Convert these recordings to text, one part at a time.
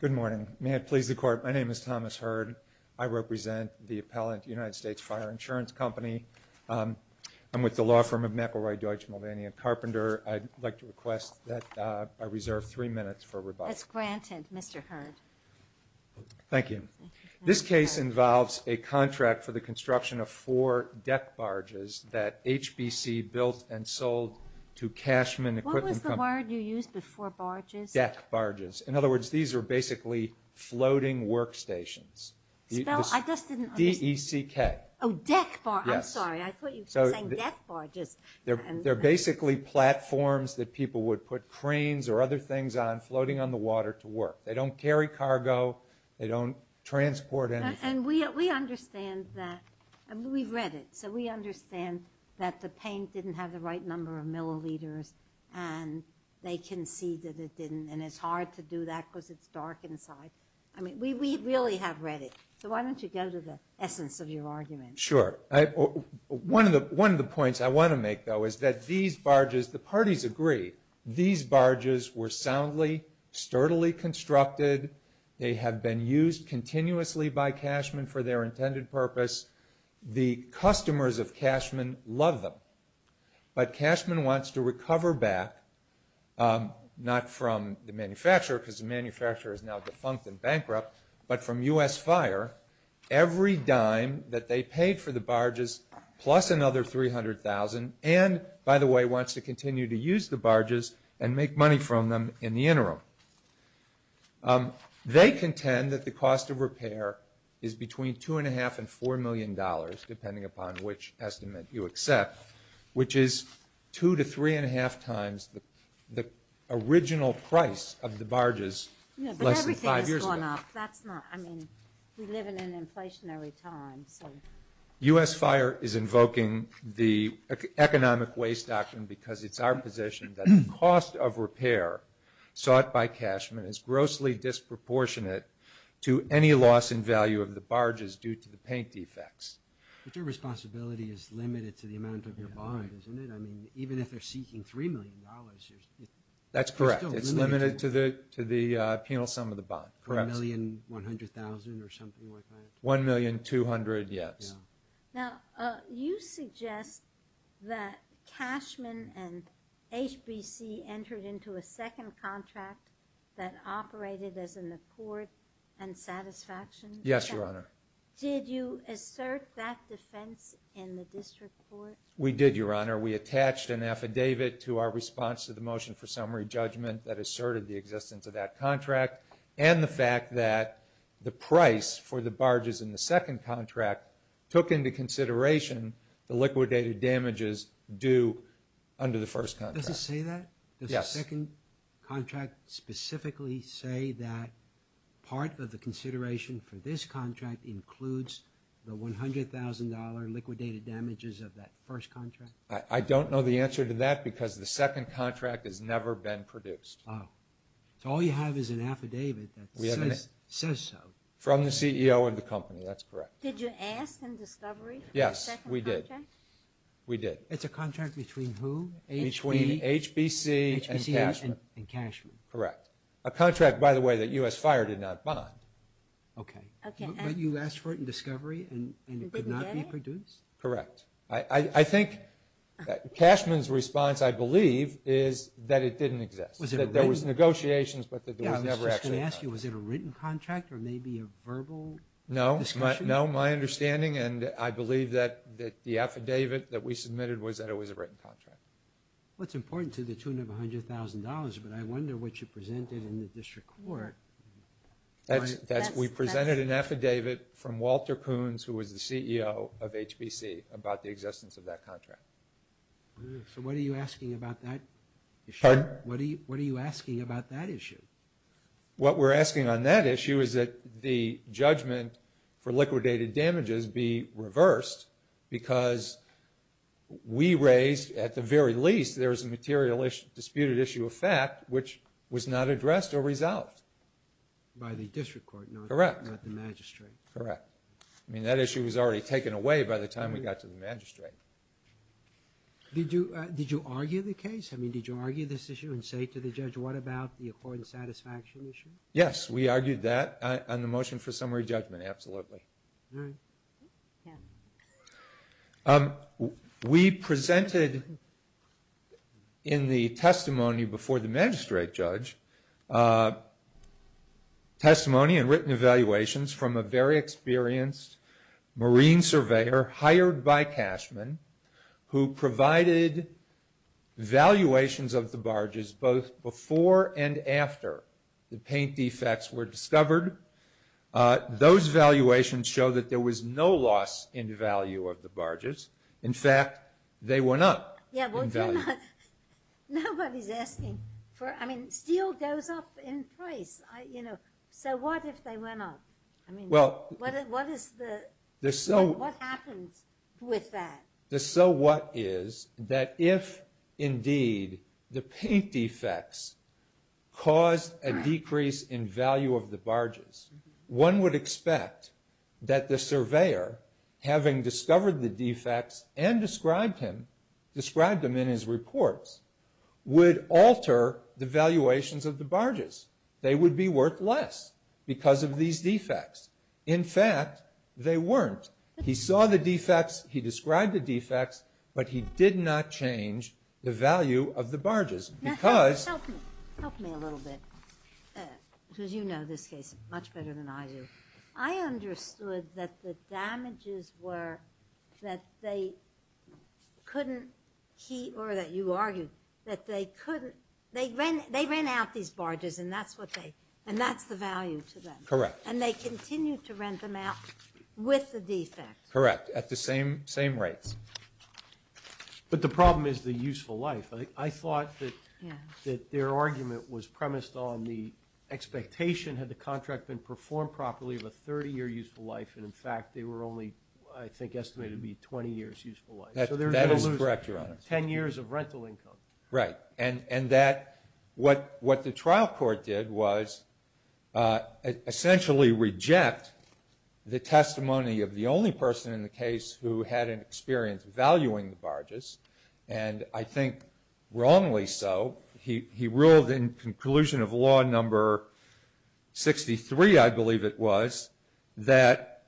Good morning. May it please the Court, my name is Thomas Heard. I represent the appellate United States Fire Insurance Company. I'm with the law firm of McElroy, Deutsch Melvania Carpenter. I'd like to request that I reserve three minutes for rebuttal. That's granted, Mr. Heard. Thank you. This case involves a contract for the construction of four deck barges that are basically floating workstations. They're basically platforms that people would put cranes or other things on floating on the water to work. They don't carry cargo, they don't transport anything. And we understand that, we've read it, so we understand that the paint didn't have the right number of milliliters, and they conceded it didn't, and it's hard to do that because it's dark inside. I mean, we really have read it, so why don't you go to the essence of your argument? Sure. One of the points I want to make, though, is that these barges, the parties agree, these barges were soundly, sturdily constructed. They have been used continuously by cashmen for their intended purpose. The customers of cashmen love them. But cashmen wants to recover back, not from the manufacturer, because the manufacturer is now defunct and bankrupt, but from U.S. fire, every dime that they paid for the barges plus another $300,000 and, by the way, wants to continue to use the barges and make money from them in the interim. They contend that the cost of repair is between $2.5 and $4 million, depending upon which estimate you accept, which is two to three and a half times the original price of the barges less than five years ago. Yeah, but everything has gone up. That's not, I mean, we live in an inflationary time, so. U.S. fire is invoking the economic waste doctrine because it's our position that the cost of repair by cashmen is grossly disproportionate to any loss in value of the barges due to the paint defects. But your responsibility is limited to the amount of your bond, isn't it? I mean, even if they're seeking $3 million, there's still a limit. That's correct. It's limited to the penal sum of the bond. $1,100,000 or something like that? $1,200,000, yes. Now, you suggest that cashmen and HBC entered into a second contract that operated as an accord and satisfaction. Yes, Your Honor. Did you assert that defense in the district court? We did, Your Honor. We attached an affidavit to our response to the motion for summary judgment that asserted the existence of that contract and the fact that the price for the contract took into consideration the liquidated damages due under the first contract. Does it say that? Yes. Does the second contract specifically say that part of the consideration for this contract includes the $100,000 liquidated damages of that first contract? I don't know the answer to that because the second contract has never been produced. So all you have is an affidavit that says so. From the CEO of the company. That's correct. Did you ask in discovery for the second contract? Yes, we did. We did. It's a contract between who? Between HBC and Cashman. Correct. A contract, by the way, that U.S. Fire did not bond. Okay. But you asked for it in discovery and it could not be produced? Correct. I think Cashman's response, I believe, is that it didn't exist. That there was negotiations but that there was never actually a bond. I was just going to ask you, was it a written contract or maybe a verbal discussion? No, my understanding, and I believe that the affidavit that we submitted was that it was a written contract. Well, it's important to the tune of $100,000, but I wonder what you presented in the district court. We presented an affidavit from Walter Coons, who was the CEO of HBC, about the existence of that contract. So what are you asking about that issue? Pardon? What are you asking about that issue? What we're asking on that issue is that the judgment for liquidated damages be reversed because we raised, at the very least, there was a material disputed issue of fact which was not addressed or resolved. By the district court, not the magistrate. Correct. I mean, that issue was already taken away by the time we got to the magistrate. Did you argue the case? I mean, did you argue this issue and say to the judge, what about the accord and satisfaction issue? Yes, we argued that on the motion for summary judgment, absolutely. All right. We presented in the testimony before the magistrate judge testimony and written evaluations from a very experienced marine surveyor hired by Cashman who provided valuations of the barges both before and after the paint defects were discovered. Those valuations show that there was no loss in value of the barges. In fact, they went up in value. Nobody's asking for, I mean, steel goes up in price. So what if they went up? I mean, what is the, what happens with that? The so what is that if indeed the paint defects caused a decrease in value of the barges, one would expect that the surveyor, having discovered the defects and described them in his reports, would alter the valuations of the barges. They would be worth less because of these defects. In fact, they weren't. He saw the defects. He described the defects. But he did not change the value of the barges because Help me a little bit because you know this case much better than I do. I understood that the damages were that they couldn't, or that you argued, that they couldn't, they ran out these barges and that's what they, and that's the value to them. Correct. And they continued to rent them out with the defects. Correct. At the same rates. But the problem is the useful life. I thought that their argument was premised on the expectation, had the contract been performed properly, of a 30-year useful life. And, in fact, they were only, I think, estimated to be 20 years useful life. That is correct, Your Honor. Ten years of rental income. Right. And that what the trial court did was essentially reject the testimony of the only person in the case who had an experience valuing the barges. And I think wrongly so. He ruled in conclusion of law number 63, I believe it was, that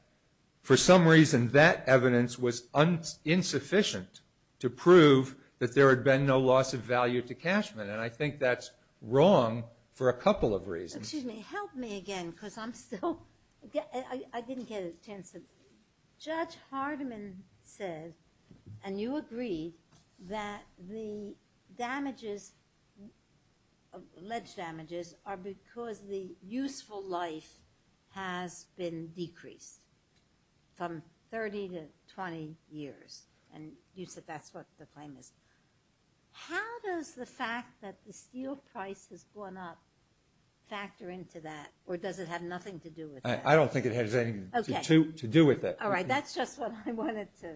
for some reason that evidence was insufficient to prove that there had been no loss of value to Cashman. And I think that's wrong for a couple of reasons. Excuse me. Help me again because I'm still, I didn't get a chance to. Judge Hardiman said, and you agreed, that the damages, ledge damages are because the useful life has been decreased from 30 to 20 years. And you said that's what the claim is. How does the fact that the steel price has gone up factor into that? Or does it have nothing to do with that? I don't think it has anything to do with it. All right. That's just what I wanted to,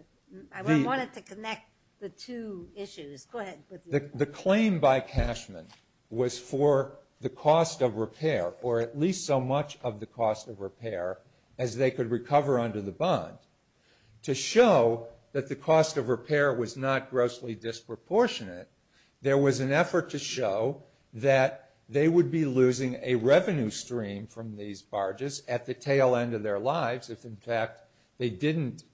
I wanted to connect the two issues. Go ahead. The claim by Cashman was for the cost of repair, or at least so much of the cost of repair as they could recover under the bond. To show that the cost of repair was not grossly disproportionate, there was an effort to show that they would be losing a revenue stream from these barges at the tail end of their lives if, in fact, they didn't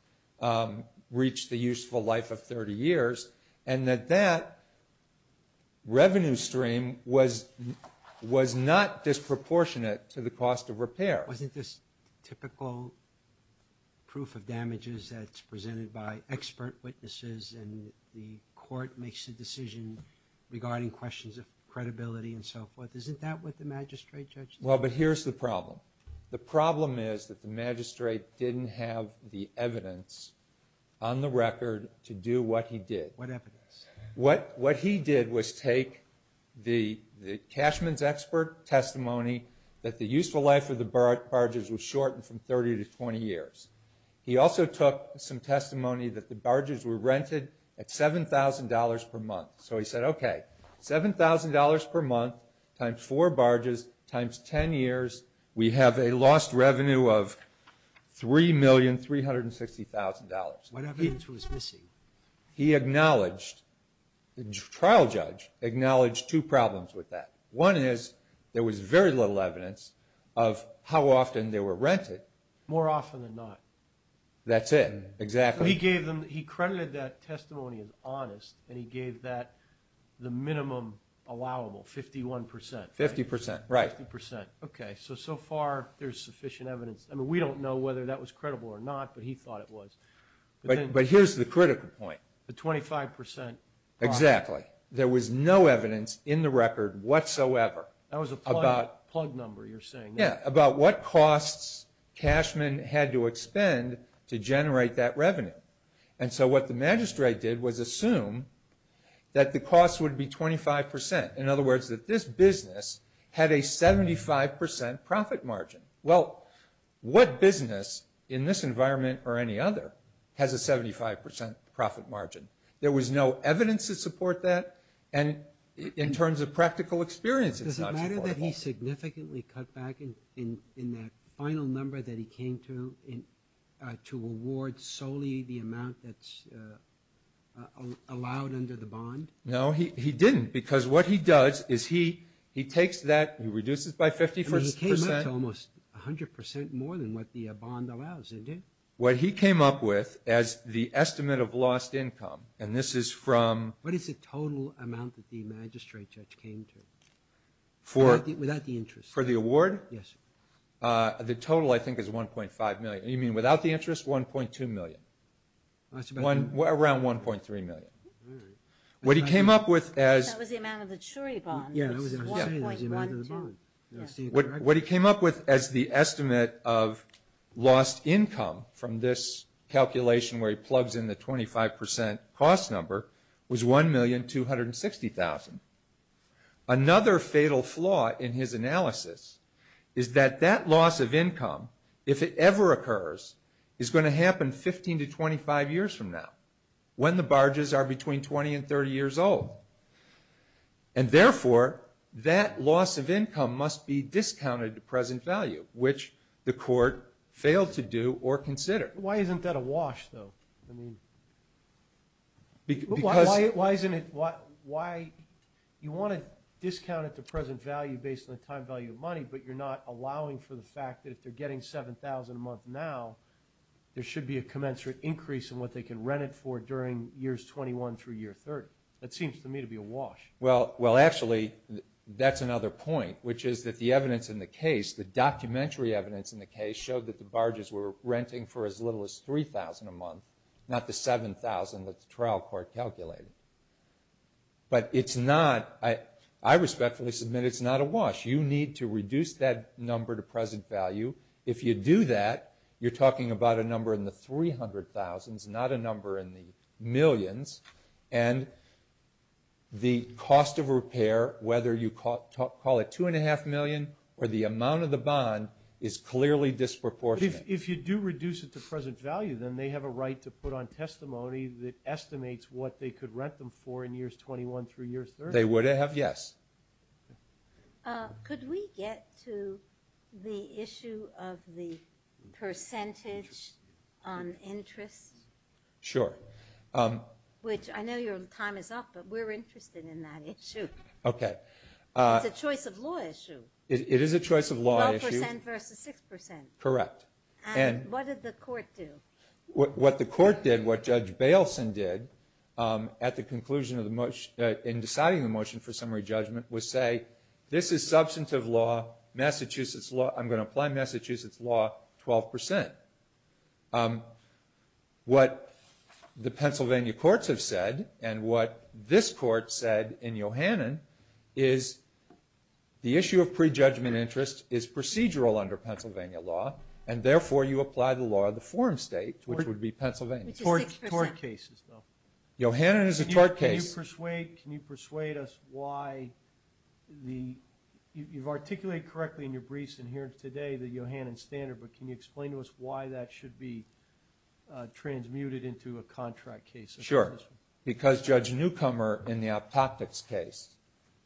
reach the useful life of 30 years. And that that revenue stream was not disproportionate to the cost of repair. Wasn't this typical proof of damages that's presented by expert witnesses and the court makes a decision regarding questions of credibility and so forth? Isn't that what the magistrate judged? Well, but here's the problem. The problem is that the magistrate didn't have the evidence on the record to do what he did. What evidence? What he did was take the Cashman's expert testimony that the useful life of the barges was shortened from 30 to 20 years. He also took some testimony that the barges were rented at $7,000 per month. So he said, okay, $7,000 per month times four barges times 10 years, we have a lost revenue of $3,360,000. What evidence was missing? He acknowledged, the trial judge acknowledged two problems with that. One is there was very little evidence of how often they were rented. More often than not. That's it, exactly. He credited that testimony as honest, and he gave that the minimum allowable, 51%. 50%, right. 50%. Okay, so so far there's sufficient evidence. I mean, we don't know whether that was credible or not, but he thought it was. But here's the critical point. The 25%. Exactly. That was a plug number, you're saying. Yeah, about what costs Cashman had to expend to generate that revenue. And so what the magistrate did was assume that the cost would be 25%. In other words, that this business had a 75% profit margin. Well, what business in this environment or any other has a 75% profit margin? There was no evidence to support that. And in terms of practical experience, it's not supportable. Is it true that he significantly cut back in that final number that he came to to award solely the amount that's allowed under the bond? No, he didn't, because what he does is he takes that, he reduces by 50%. I mean, he came up to almost 100% more than what the bond allows, didn't he? What he came up with as the estimate of lost income, and this is from... What is the total amount that the magistrate judge came to? Without the interest. For the award? Yes. The total, I think, is $1.5 million. You mean without the interest, $1.2 million? Around $1.3 million. All right. What he came up with as... That was the amount of the jury bond. Yeah, that was the amount of the bond. What he came up with as the estimate of lost income from this calculation where he plugs in the 25% cost number was $1,260,000. Another fatal flaw in his analysis is that that loss of income, if it ever occurs, is going to happen 15 to 25 years from now, when the barges are between 20 and 30 years old. And therefore, that loss of income must be discounted to present value, which the court failed to do or consider. Why isn't that a wash, though? I mean, because... You want to discount it to present value based on the time value of money, but you're not allowing for the fact that if they're getting $7,000 a month now, there should be a commensurate increase in what they can rent it for during years 21 through year 30. That seems to me to be a wash. Well, actually, that's another point, which is that the evidence in the case, the documentary evidence in the case, showed that the barges were renting for as little as $3,000 a month, not the $7,000 that the trial court calculated. But it's not... I respectfully submit it's not a wash. You need to reduce that number to present value. If you do that, you're talking about a number in the $300,000s, not a number in the millions. And the cost of repair, whether you call it $2.5 million or the amount of the bond, is clearly disproportionate. If you do reduce it to present value, then they have a right to put on testimony that estimates what they could rent them for in years 21 through year 30. They would have, yes. Could we get to the issue of the percentage on interest? Sure. Which I know your time is up, but we're interested in that issue. Okay. It's a choice of law issue. It is a choice of law issue. 12% versus 6%. Correct. And what did the court do? What the court did, what Judge Bailson did, at the conclusion in deciding the motion for summary judgment, was say, this is substantive law, Massachusetts law, I'm going to apply Massachusetts law 12%. What the Pennsylvania courts have said, and what this court said in Yohannan, is the issue of prejudgment interest is procedural under Pennsylvania law, and therefore you apply the law of the forum state, which would be Pennsylvania. Tort cases, though. Yohannan is a tort case. Can you persuade us why the – you've articulated correctly in your briefs and here today the Yohannan standard, but can you explain to us why that should be transmuted into a contract case? Sure. Because Judge Newcomer in the optotics case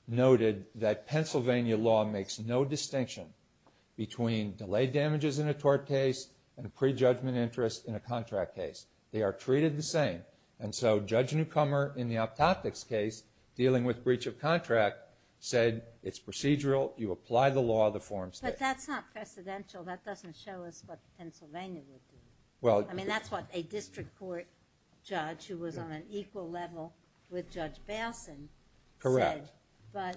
noted that Pennsylvania law makes no distinction between delayed damages in a tort case and prejudgment interest in a contract case. They are treated the same. And so Judge Newcomer in the optotics case, dealing with breach of contract, said it's procedural, you apply the law of the forum state. But that's not precedential. That doesn't show us what Pennsylvania would do. I mean, that's what a district court judge who was on an equal level with Judge Balson said. Correct. But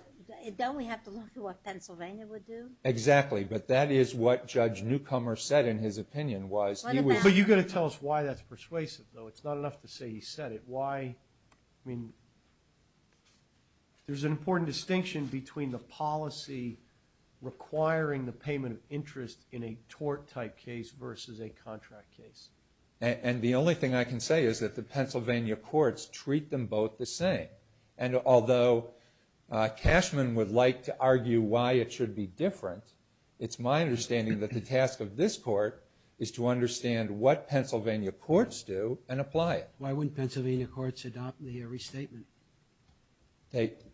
don't we have to look at what Pennsylvania would do? Exactly. But that is what Judge Newcomer said in his opinion was he would – But you've got to tell us why that's persuasive, though. It's not enough to say he said it. Why – I mean, there's an important distinction between the policy requiring the payment of interest in a tort-type case versus a contract case. And the only thing I can say is that the Pennsylvania courts treat them both the same. And although Cashman would like to argue why it should be different, it's my understanding that the task of this court is to understand what Pennsylvania courts do and apply it. Why wouldn't Pennsylvania courts adopt the restatement?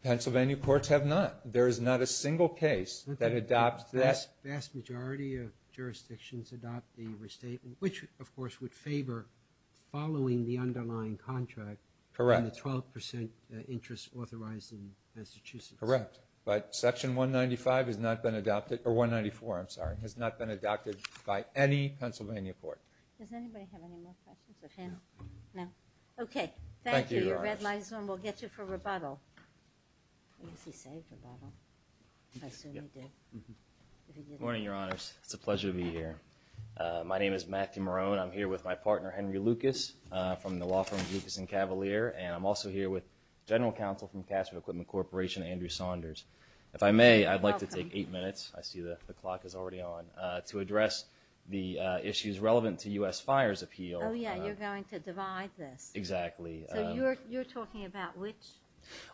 Pennsylvania courts have not. There is not a single case that adopts that. The vast majority of jurisdictions adopt the restatement, which, of course, would favor following the underlying contract and the 12% interest authorized in Massachusetts. Correct. But Section 194 has not been adopted by any Pennsylvania court. Does anybody have any more questions? No. Okay. Thank you. Your red line is on. We'll get you for rebuttal. I guess he saved rebuttal. I assume he did. Good morning, Your Honors. It's a pleasure to be here. My name is Matthew Marone. I'm here with my partner, Henry Lucas, from the law firm Lucas & Cavalier, and I'm also here with General Counsel from Cashman Equipment Corporation, Andrew Saunders. If I may, I'd like to take eight minutes. I see the clock is already on. To address the issues relevant to U.S. Fires Appeal. Oh, yeah, you're going to divide this. Exactly. So you're talking about which?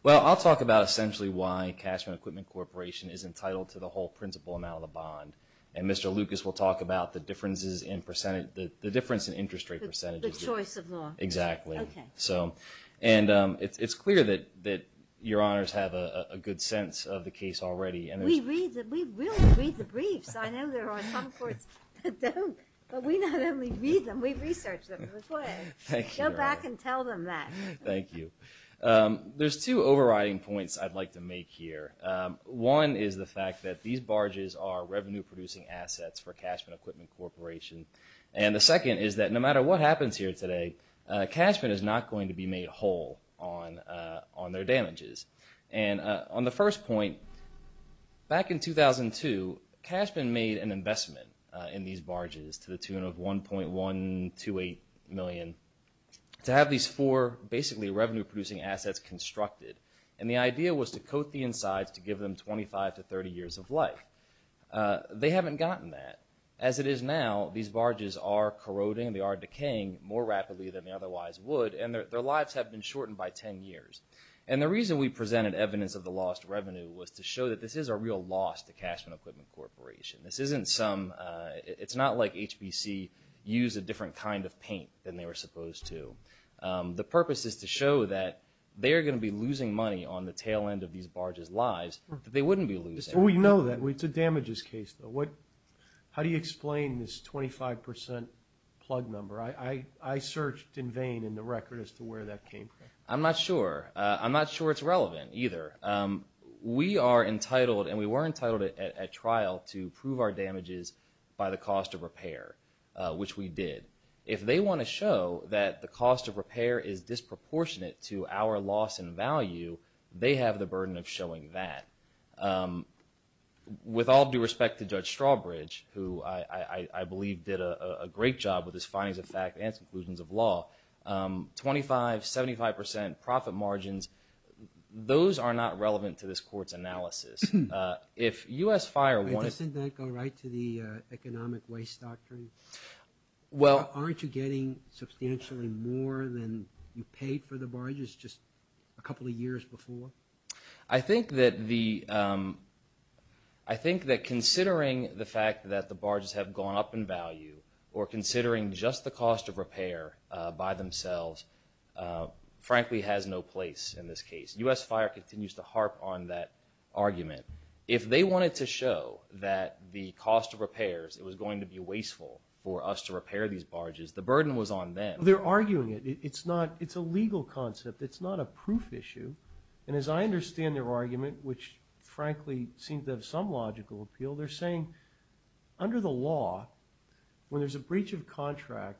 Well, I'll talk about essentially why Cashman Equipment Corporation is entitled to the whole principal amount of the bond, and Mr. Lucas will talk about the difference in interest rate percentages. The choice of law. Exactly. Okay. And it's clear that Your Honors have a good sense of the case already. We really read the briefs. I know there are some courts that don't, but we not only read them, we research them. Go back and tell them that. Thank you. There's two overriding points I'd like to make here. One is the fact that these barges are revenue-producing assets for Cashman Equipment Corporation, and the second is that no matter what happens here today, Cashman is not going to be made whole on their damages. And on the first point, back in 2002, Cashman made an investment in these barges to the tune of $1.128 million. To have these four basically revenue-producing assets constructed, and the idea was to coat the insides to give them 25 to 30 years of life. They haven't gotten that. As it is now, these barges are corroding, they are decaying more rapidly than they otherwise would, and their lives have been shortened by 10 years. And the reason we presented evidence of the lost revenue was to show that this is a real loss to Cashman Equipment Corporation. This isn't some – it's not like HBC used a different kind of paint than they were supposed to. The purpose is to show that they are going to be losing money on the tail end of these barges' lives that they wouldn't be losing. We know that. It's a damages case, though. How do you explain this 25% plug number? I searched in vain in the record as to where that came from. I'm not sure. I'm not sure it's relevant either. We are entitled and we were entitled at trial to prove our damages by the cost of repair, which we did. If they want to show that the cost of repair is disproportionate to our loss in value, they have the burden of showing that. With all due respect to Judge Strawbridge, who I believe did a great job with his findings of fact and conclusions of law, 25%, 75% profit margins, those are not relevant to this Court's analysis. If U.S. Fire wanted – Doesn't that go right to the economic waste doctrine? Aren't you getting substantially more than you paid for the barges just a couple of years before? I think that considering the fact that the barges have gone up in value or considering just the cost of repair by themselves, frankly, has no place in this case. U.S. Fire continues to harp on that argument. If they wanted to show that the cost of repairs, it was going to be wasteful for us to repair these barges, the burden was on them. They're arguing it. It's a legal concept. It's not a proof issue. And as I understand their argument, which frankly seems to have some logical appeal, they're saying under the law, when there's a breach of contract,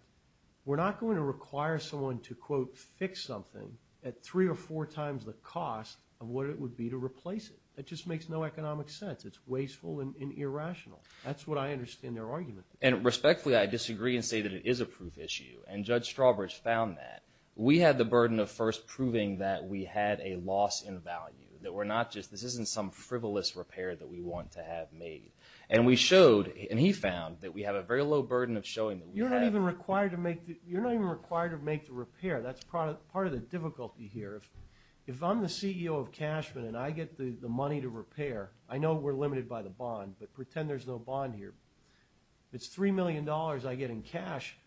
we're not going to require someone to, quote, fix something at three or four times the cost of what it would be to replace it. That just makes no economic sense. It's wasteful and irrational. That's what I understand their argument. And respectfully, I disagree and say that it is a proof issue, and Judge Strawbridge found that. We had the burden of first proving that we had a loss in value, that this isn't some frivolous repair that we want to have made. And we showed, and he found, that we have a very low burden of showing that we have. You're not even required to make the repair. That's part of the difficulty here. If I'm the CEO of Cashman and I get the money to repair, I know we're limited by the bond, but pretend there's no bond here. If it's $3 million I get in cash,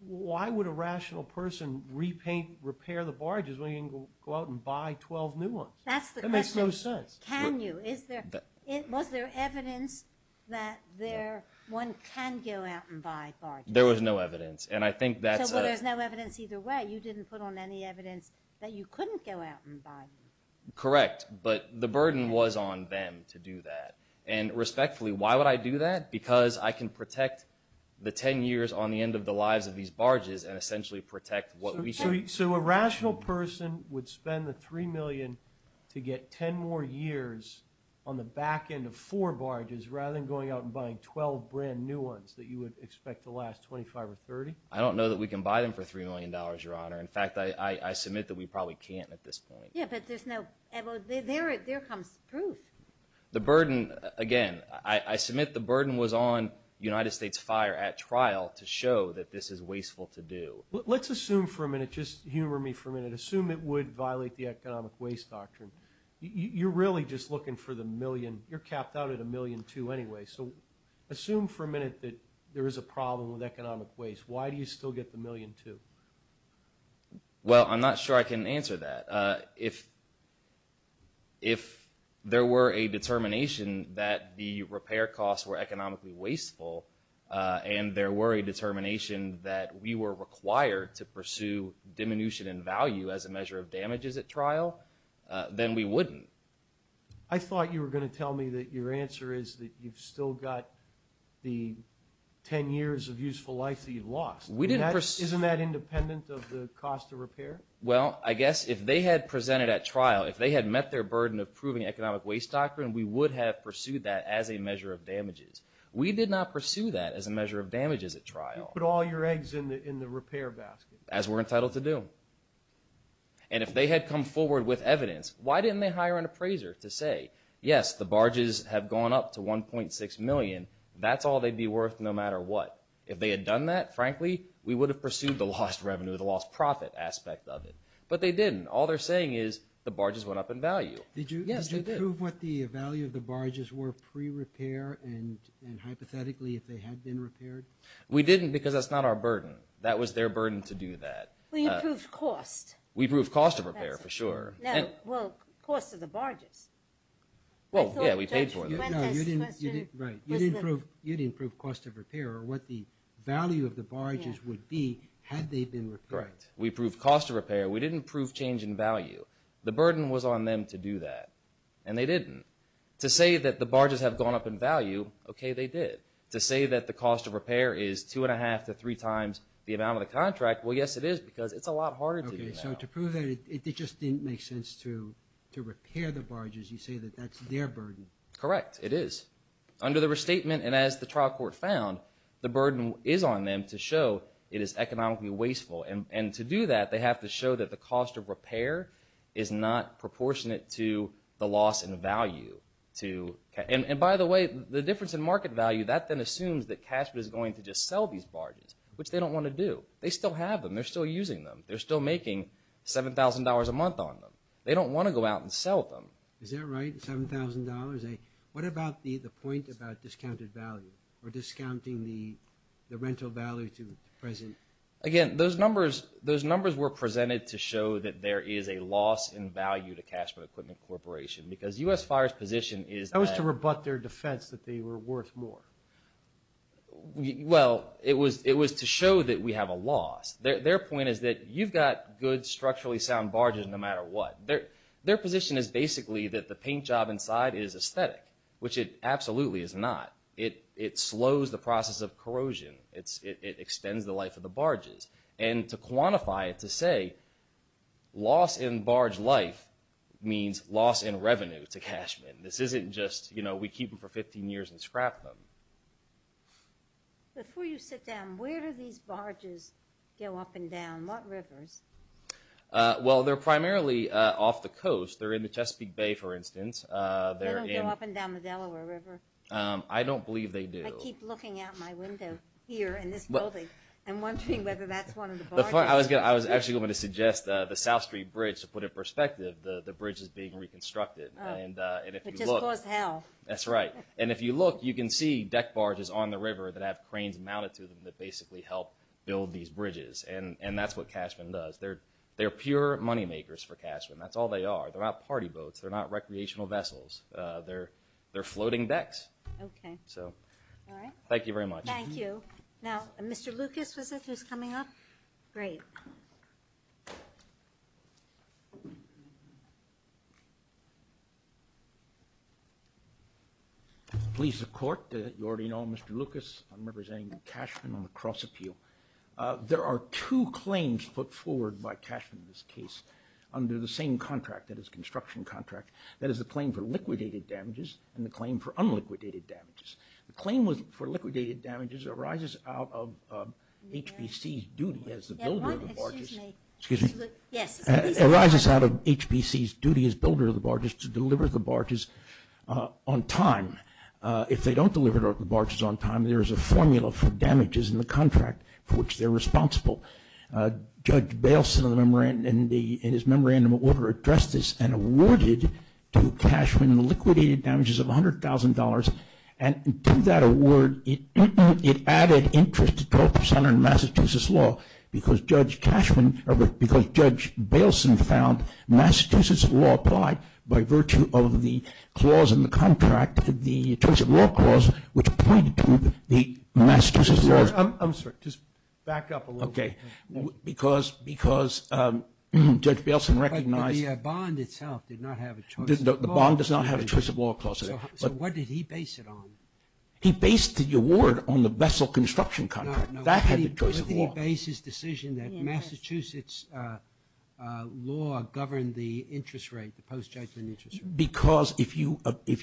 why would a rational person repaint, repair the barges when you can go out and buy 12 new ones? That's the question. That makes no sense. Can you? Was there evidence that one can go out and buy barges? There was no evidence, and I think that's a— So there's no evidence either way. You didn't put on any evidence that you couldn't go out and buy them. Correct, but the burden was on them to do that. And respectfully, why would I do that? Because I can protect the 10 years on the end of the lives of these barges and essentially protect what we— So a rational person would spend the $3 million to get 10 more years on the back end of four barges rather than going out and buying 12 brand new ones that you would expect to last 25 or 30? I don't know that we can buy them for $3 million, Your Honor. In fact, I submit that we probably can't at this point. Yeah, but there's no—well, there comes proof. The burden, again, I submit the burden was on United States Fire at trial to show that this is wasteful to do. Let's assume for a minute, just humor me for a minute, assume it would violate the economic waste doctrine. You're really just looking for the million. You're capped out at $1.2 million anyway, so assume for a minute that there is a problem with economic waste. Why do you still get the $1.2 million? Well, I'm not sure I can answer that. If there were a determination that the repair costs were economically wasteful and there were a determination that we were required to pursue diminution in value as a measure of damages at trial, then we wouldn't. I thought you were going to tell me that your answer is that you've still got the 10 years of useful life that you lost. Isn't that independent of the cost of repair? Well, I guess if they had presented at trial, if they had met their burden of proving economic waste doctrine, we would have pursued that as a measure of damages. We did not pursue that as a measure of damages at trial. You put all your eggs in the repair basket. As we're entitled to do. And if they had come forward with evidence, why didn't they hire an appraiser to say, yes, the barges have gone up to $1.6 million. That's all they'd be worth no matter what. If they had done that, frankly, we would have pursued the lost revenue, the lost profit aspect of it. But they didn't. All they're saying is the barges went up in value. Did you prove what the value of the barges were pre-repair and hypothetically if they had been repaired? We didn't because that's not our burden. That was their burden to do that. We proved cost. We proved cost of repair for sure. Well, cost of the barges. Well, yeah, we paid for them. No, you didn't prove cost of repair or what the value of the barges would be had they been repaired. Correct. We proved cost of repair. We didn't prove change in value. The burden was on them to do that, and they didn't. To say that the barges have gone up in value, okay, they did. To say that the cost of repair is 2.5 to 3 times the amount of the contract, well, yes, it is because it's a lot harder to do now. Okay, so to prove that, it just didn't make sense to repair the barges. You say that that's their burden. Correct, it is. Under the restatement and as the trial court found, the burden is on them to show it is economically wasteful, and to do that, they have to show that the cost of repair is not proportionate to the loss in value. And by the way, the difference in market value, that then assumes that cash is going to just sell these barges, which they don't want to do. They still have them. They're still using them. They're still making $7,000 a month on them. They don't want to go out and sell them. Is that right, $7,000? What about the point about discounted value or discounting the rental value to the president? Again, those numbers were presented to show that there is a loss in value to Cash for Equipment Corporation because U.S. Fire's position is that – That was to rebut their defense that they were worth more. Well, it was to show that we have a loss. Their point is that you've got good, structurally sound barges no matter what. Their position is basically that the paint job inside is aesthetic, which it absolutely is not. It slows the process of corrosion. It extends the life of the barges. And to quantify it, to say loss in barge life means loss in revenue to Cashman. This isn't just, you know, we keep them for 15 years and scrap them. Before you sit down, where do these barges go up and down? What rivers? Well, they're primarily off the coast. They're in the Chesapeake Bay, for instance. They don't go up and down the Delaware River? I don't believe they do. I keep looking out my window here in this building. I'm wondering whether that's one of the barges. I was actually going to suggest the South Street Bridge to put it in perspective. The bridge is being reconstructed. It just caused hell. That's right. And if you look, you can see deck barges on the river that have cranes mounted to them that basically help build these bridges, and that's what Cashman does. They're pure moneymakers for Cashman. That's all they are. They're not party boats. They're not recreational vessels. They're floating decks. Okay. All right. Thank you very much. Thank you. Now, Mr. Lucas, was it, who's coming up? Great. Please, the Court. You already know Mr. Lucas. I'm representing Cashman on the cross-appeal. There are two claims put forward by Cashman in this case under the same contract, that is, construction contract. That is the claim for liquidated damages and the claim for unliquidated damages. The claim for liquidated damages arises out of HBC's duty as the builder of the barges. Excuse me. Yes. It arises out of HBC's duty as builder of the barges to deliver the barges on time. If they don't deliver the barges on time, there is a formula for damages in the contract for which they're responsible. Judge Baleson, in his memorandum of order, addressed this and awarded to Cashman liquidated damages of $100,000. And to that award, it added interest to 12% on Massachusetts law because Judge Baleson found Massachusetts law applied by virtue of the clause in the contract, the terms of law clause, which pointed to the Massachusetts law. I'm sorry. Just back up a little bit. Okay. Because Judge Baleson recognized – But the bond itself did not have a choice of law. The bond does not have a choice of law clause in it. So what did he base it on? He based the award on the vessel construction contract. No, no. That had the choice of law. Why didn't he base his decision that Massachusetts law governed the interest rate, the post-judgment interest rate? Because if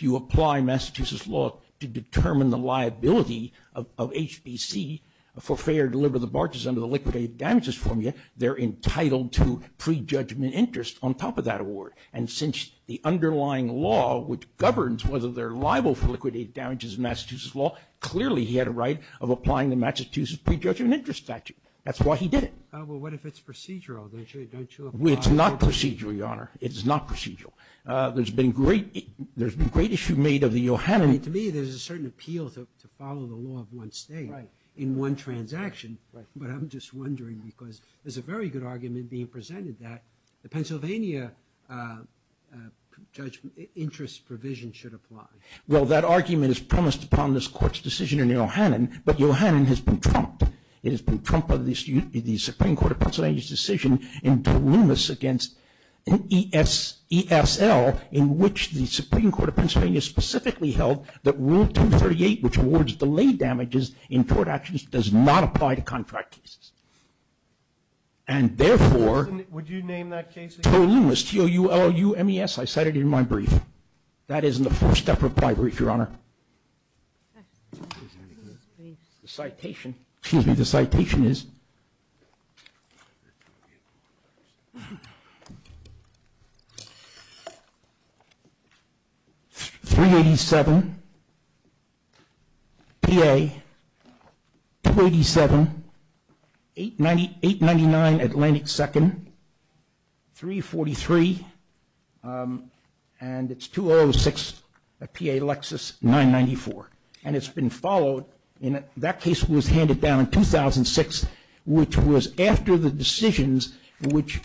you apply Massachusetts law to determine the liability of HBC for fair or deliberate debauchery under the liquidated damages formula, they're entitled to prejudgment interest on top of that award. And since the underlying law, which governs whether they're liable for liquidated damages in Massachusetts law, clearly he had a right of applying the Massachusetts prejudgment interest statute. That's why he did it. Well, what if it's procedural? It's not procedural, Your Honor. It is not procedural. There's been great issue made of the – To me, there's a certain appeal to follow the law of one state in one transaction. Right. But I'm just wondering because there's a very good argument being presented that the Pennsylvania interest provision should apply. Well, that argument is premised upon this Court's decision in Ohanen, but Ohanen has been trumped. It has been trumped by the Supreme Court of Pennsylvania's decision in ESL in which the Supreme Court of Pennsylvania specifically held that Rule 238, which awards delayed damages in tort actions, does not apply to contract cases. And therefore, Would you name that case again? Tolumas, T-O-U-L-U-M-E-S. I cited it in my brief. That is in the first step of my brief, Your Honor. The citation is 387, P.A., 287, 899 Atlantic 2nd, 343, and it's 206, P.A., Lexis, 994. And it's been followed. That case was handed down in 2006, which was after the decisions which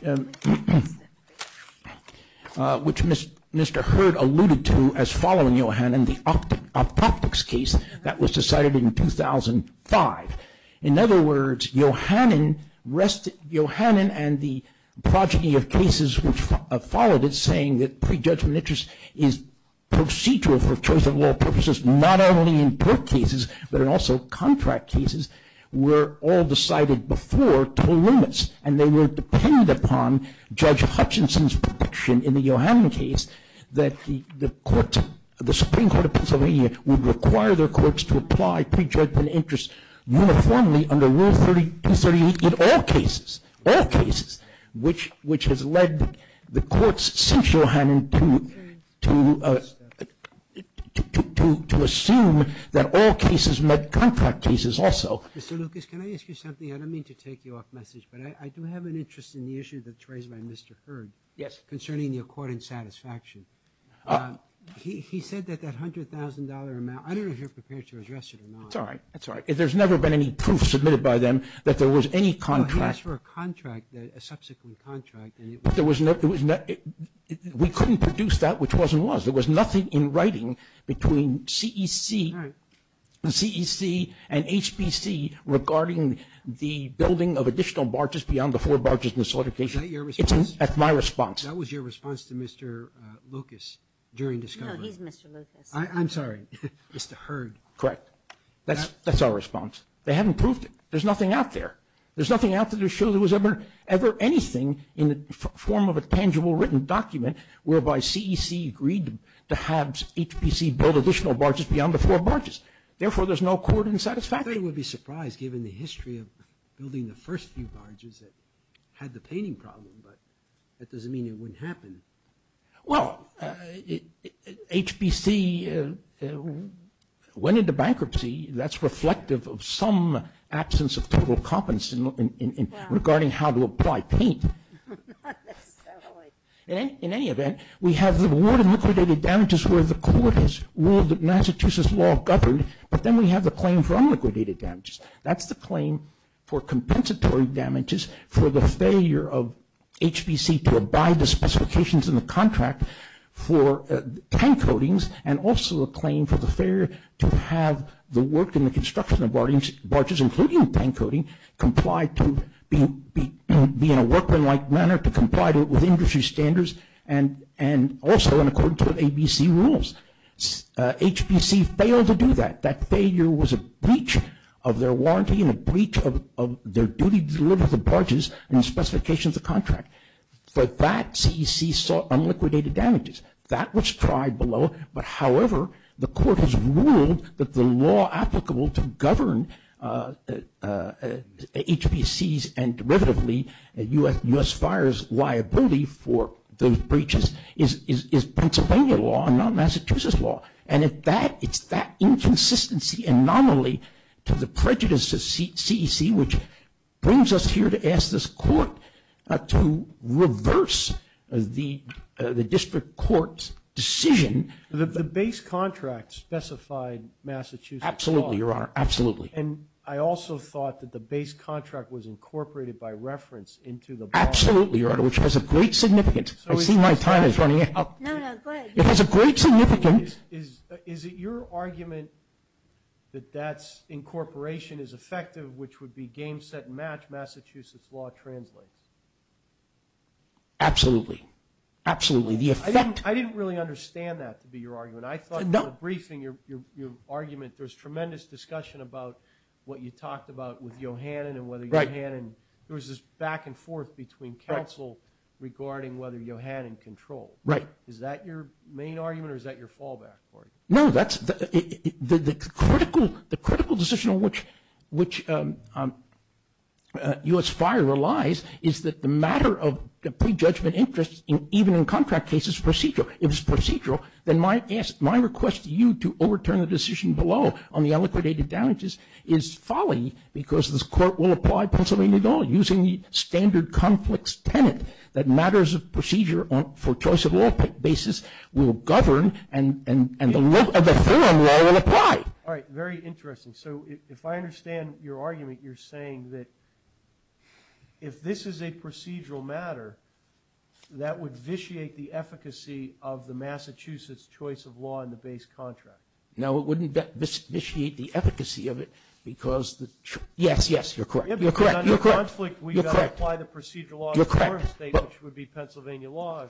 Mr. Hurd alluded to as following Ohanen, the optics case that was decided in 2005. In other words, Ohanen and the progeny of cases which followed it saying that prejudgment interest is procedural for choice of law purposes, not only in tort cases, but in also contract cases, were all decided before Tolumas. And they would depend upon Judge Hutchinson's prediction in the Ohanen case that the Supreme Court of Pennsylvania would require their courts to apply prejudgment interest uniformly under Rule 338 in all cases, all cases, which has led the courts since Ohanen to assume that all cases met contract cases also. Mr. Lucas, can I ask you something? I don't mean to take you off message, but I do have an interest in the issue that's raised by Mr. Hurd. Yes. Concerning the accord and satisfaction. He said that that $100,000 amount, I don't know if you're prepared to address it or not. That's all right, that's all right. There's never been any proof submitted by them that there was any contract. He asked for a contract, a subsequent contract. There was no, we couldn't produce that which was and was. There was nothing in writing between CEC and HBC regarding the building of additional barges beyond the four barges in the solidification. Is that your response? That's my response. That was your response to Mr. Lucas during discovery. No, he's Mr. Lucas. I'm sorry. Mr. Hurd. Correct. That's our response. They haven't proved it. There's nothing out there. There's nothing out there to show there was ever anything in the form of a tangible written document whereby CEC agreed to have HBC build additional barges beyond the four barges. Therefore, there's no accord and satisfaction. They would be surprised given the history of building the first few barges that had the painting problem, but that doesn't mean it wouldn't happen. Well, HBC went into bankruptcy. That's reflective of some absence of total competence regarding how to apply paint. Not necessarily. In any event, we have the award of liquidated damages where the court has ruled that Massachusetts law governed, but then we have the claim for unliquidated damages. That's the claim for compensatory damages for the failure of HBC to abide the specifications in the contract for paint coatings and also a claim for the failure to have the work in the construction of barges, including paint coating, complied to be in a workmanlike manner to comply with industry standards and also in accordance with ABC rules. HBC failed to do that. That failure was a breach of their warranty and a breach of their duty to deliver the barges and the specifications of the contract. For that, CEC sought unliquidated damages. That was tried below, but however, the court has ruled that the law applicable to govern HBCs and derivatively U.S. Fires liability for those breaches is Pennsylvania law and not Massachusetts law. And it's that inconsistency anomaly to the prejudice of CEC which brings us here to ask this court to reverse the district court's decision. The base contract specified Massachusetts law. Absolutely, Your Honor. Absolutely. And I also thought that the base contract was incorporated by reference into the law. Absolutely, Your Honor, which has a great significance. I see my time is running out. No, no, go ahead. It has a great significance. Is it your argument that that incorporation is effective, which would be game, set, and match Massachusetts law translates? Absolutely. Absolutely. I didn't really understand that to be your argument. I thought in the briefing your argument, there's tremendous discussion about what you talked about with Yohannan and whether Yohannan, there was this back and forth between counsel regarding whether Yohannan controlled. Right. Is that your main argument or is that your fallback, Corey? No, the critical decision on which U.S. fire relies is that the matter of prejudgment interest even in contract cases is procedural. If it's procedural, then my request to you to overturn the decision below on the unliquidated damages is folly because this court will apply Pennsylvania law using the standard conflicts that matters of procedure for choice of law basis will govern and the theorem law will apply. All right. Very interesting. So if I understand your argument, you're saying that if this is a procedural matter, that would vitiate the efficacy of the Massachusetts choice of law in the base contract. No, it wouldn't vitiate the efficacy of it because the, yes, yes, you're correct. You're correct. If it's a conflict, we've got to apply the procedural law. You're correct. Which would be Pennsylvania law.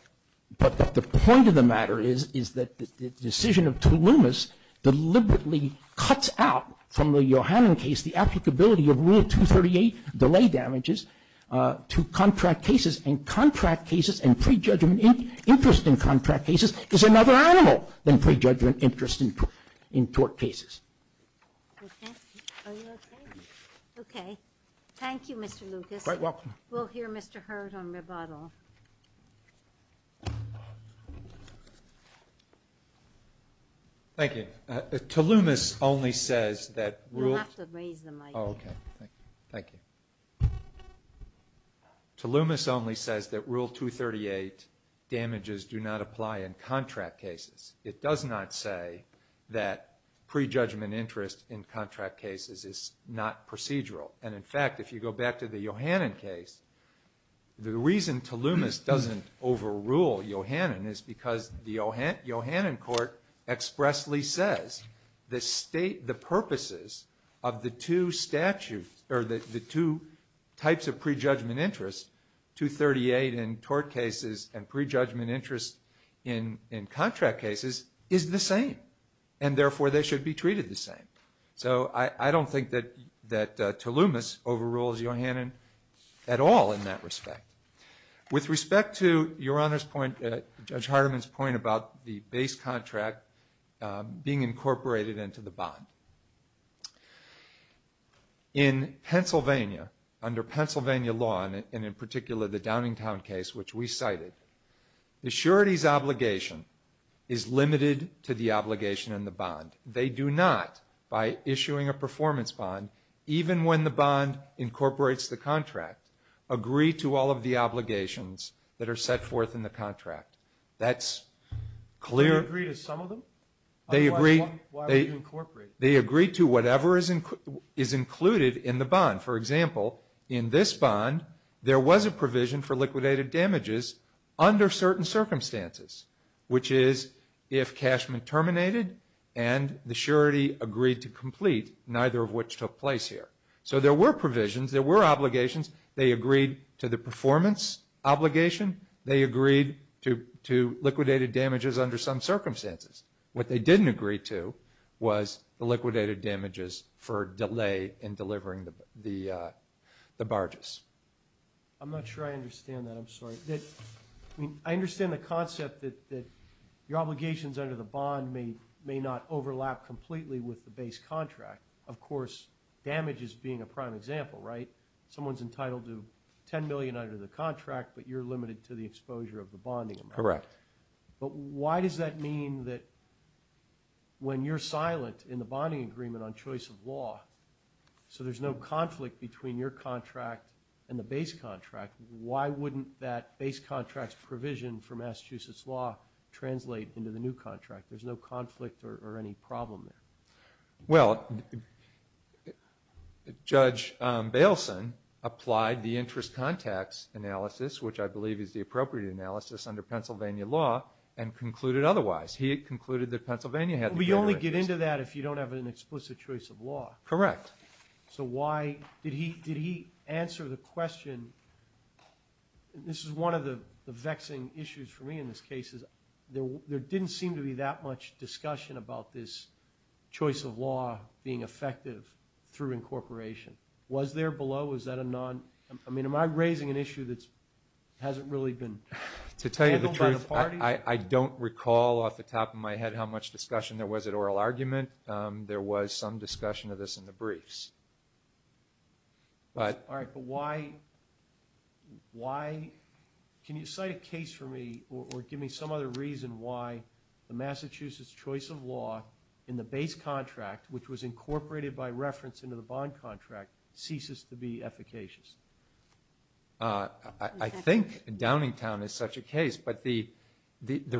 But the point of the matter is, is that the decision of Toulumas deliberately cuts out from the Yohannan case the applicability of Rule 238 delay damages to contract cases and contract cases and prejudgment interest in contract cases is another animal than prejudgment interest in tort cases. Okay. Are you okay? Okay. Thank you, Mr. Lucas. You're quite welcome. We'll hear Mr. Hurd on rebuttal. Thank you. Toulumas only says that Rule 238 damages do not apply in contract cases. It does not say that prejudgment interest in contract cases is not procedural and, in fact, if you go back to the Yohannan case, the reason Toulumas doesn't overrule Yohannan is because the Yohannan court expressly says the state, the purposes of the two statutes or the two types of prejudgment interest, 238 in tort cases and prejudgment interest in contract cases is the same and, therefore, they should be treated the same. So I don't think that Toulumas overrules Yohannan at all in that respect. With respect to Your Honor's point, Judge Hardiman's point about the base contract being incorporated into the bond, in Pennsylvania, under Pennsylvania law, and in particular the Downingtown case which we cited, the surety's obligation is limited to the obligation and the bond. They do not, by issuing a performance bond, even when the bond incorporates the contract, agree to all of the obligations that are set forth in the contract. That's clear. They agree to some of them? They agree to whatever is included in the bond. For example, in this bond, there was a provision for liquidated damages under certain circumstances, which is if cashman terminated and the surety agreed to complete, neither of which took place here. So there were provisions, there were obligations. They agreed to the performance obligation. They agreed to liquidated damages under some circumstances. What they didn't agree to was the liquidated damages for delay in delivering the barges. I'm not sure I understand that. I'm sorry. I understand the concept that your obligations under the bond may not overlap completely with the base contract. Of course, damage is being a prime example, right? Someone's entitled to $10 million under the contract, but you're limited to the exposure of the bonding amount. Correct. But why does that mean that when you're silent in the bonding agreement on choice of law, so there's no conflict between your contract and the base contract, why wouldn't that base contract's provision for Massachusetts law translate into the new contract? There's no conflict or any problem there. Well, Judge Bailson applied the interest context analysis, which I believe is the appropriate analysis under Pennsylvania law, and concluded otherwise. He concluded that Pennsylvania had the greater interest. You can only get into that if you don't have an explicit choice of law. Correct. So why did he answer the question, and this is one of the vexing issues for me in this case, is there didn't seem to be that much discussion about this choice of law being effective through incorporation. Was there below? I mean, am I raising an issue that hasn't really been handled by the parties? I don't recall off the top of my head how much discussion there was at oral argument. There was some discussion of this in the briefs. All right, but why – can you cite a case for me or give me some other reason why the Massachusetts choice of law in the base contract, which was incorporated by reference into the bond contract, ceases to be efficacious? I think Downingtown is such a case, but the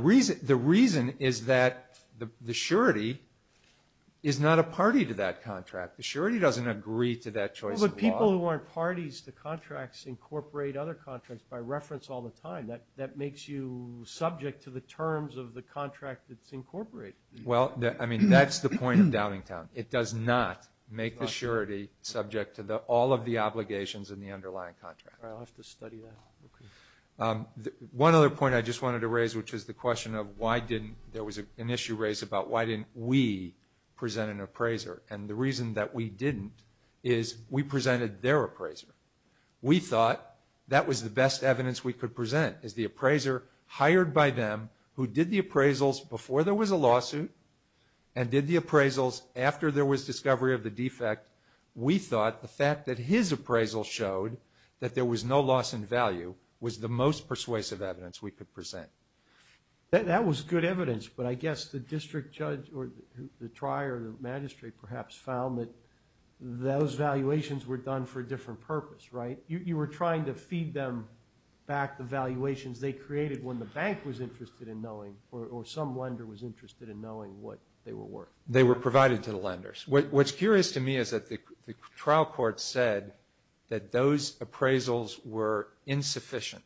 reason is that the surety is not a party to that contract. The surety doesn't agree to that choice of law. Well, but people who aren't parties to contracts incorporate other contracts by reference all the time. That makes you subject to the terms of the contract that's incorporated. Well, I mean, that's the point of Downingtown. It does not make the surety subject to all of the obligations in the underlying contract. All right, I'll have to study that. One other point I just wanted to raise, which is the question of why didn't – there was an issue raised about why didn't we present an appraiser, and the reason that we didn't is we presented their appraiser. We thought that was the best evidence we could present, is the appraiser hired by them who did the appraisals before there was a lawsuit and did the appraisals after there was discovery of the defect. We thought the fact that his appraisal showed that there was no loss in value was the most persuasive evidence we could present. That was good evidence, but I guess the district judge or the trier or the magistrate perhaps found that those valuations were done for a different purpose, right? You were trying to feed them back the valuations they created when the bank was interested in knowing or some lender was interested in knowing what they were worth. They were provided to the lenders. What's curious to me is that the trial court said that those appraisals were insufficient,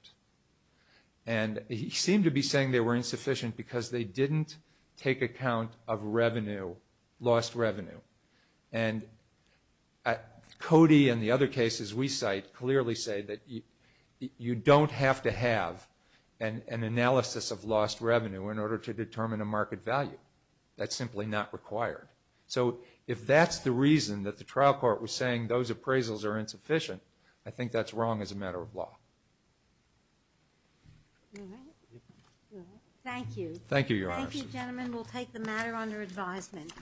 and he seemed to be saying they were insufficient because they didn't take account of revenue, lost revenue. And Cody and the other cases we cite clearly say that you don't have to have an analysis of lost revenue in order to determine a market value. That's simply not required. So if that's the reason that the trial court was saying those appraisals are insufficient, I think that's wrong as a matter of law. All right. Thank you. Thank you, Your Honor. Thank you, gentlemen. We'll take the matter under advisement.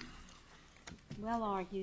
Well argued.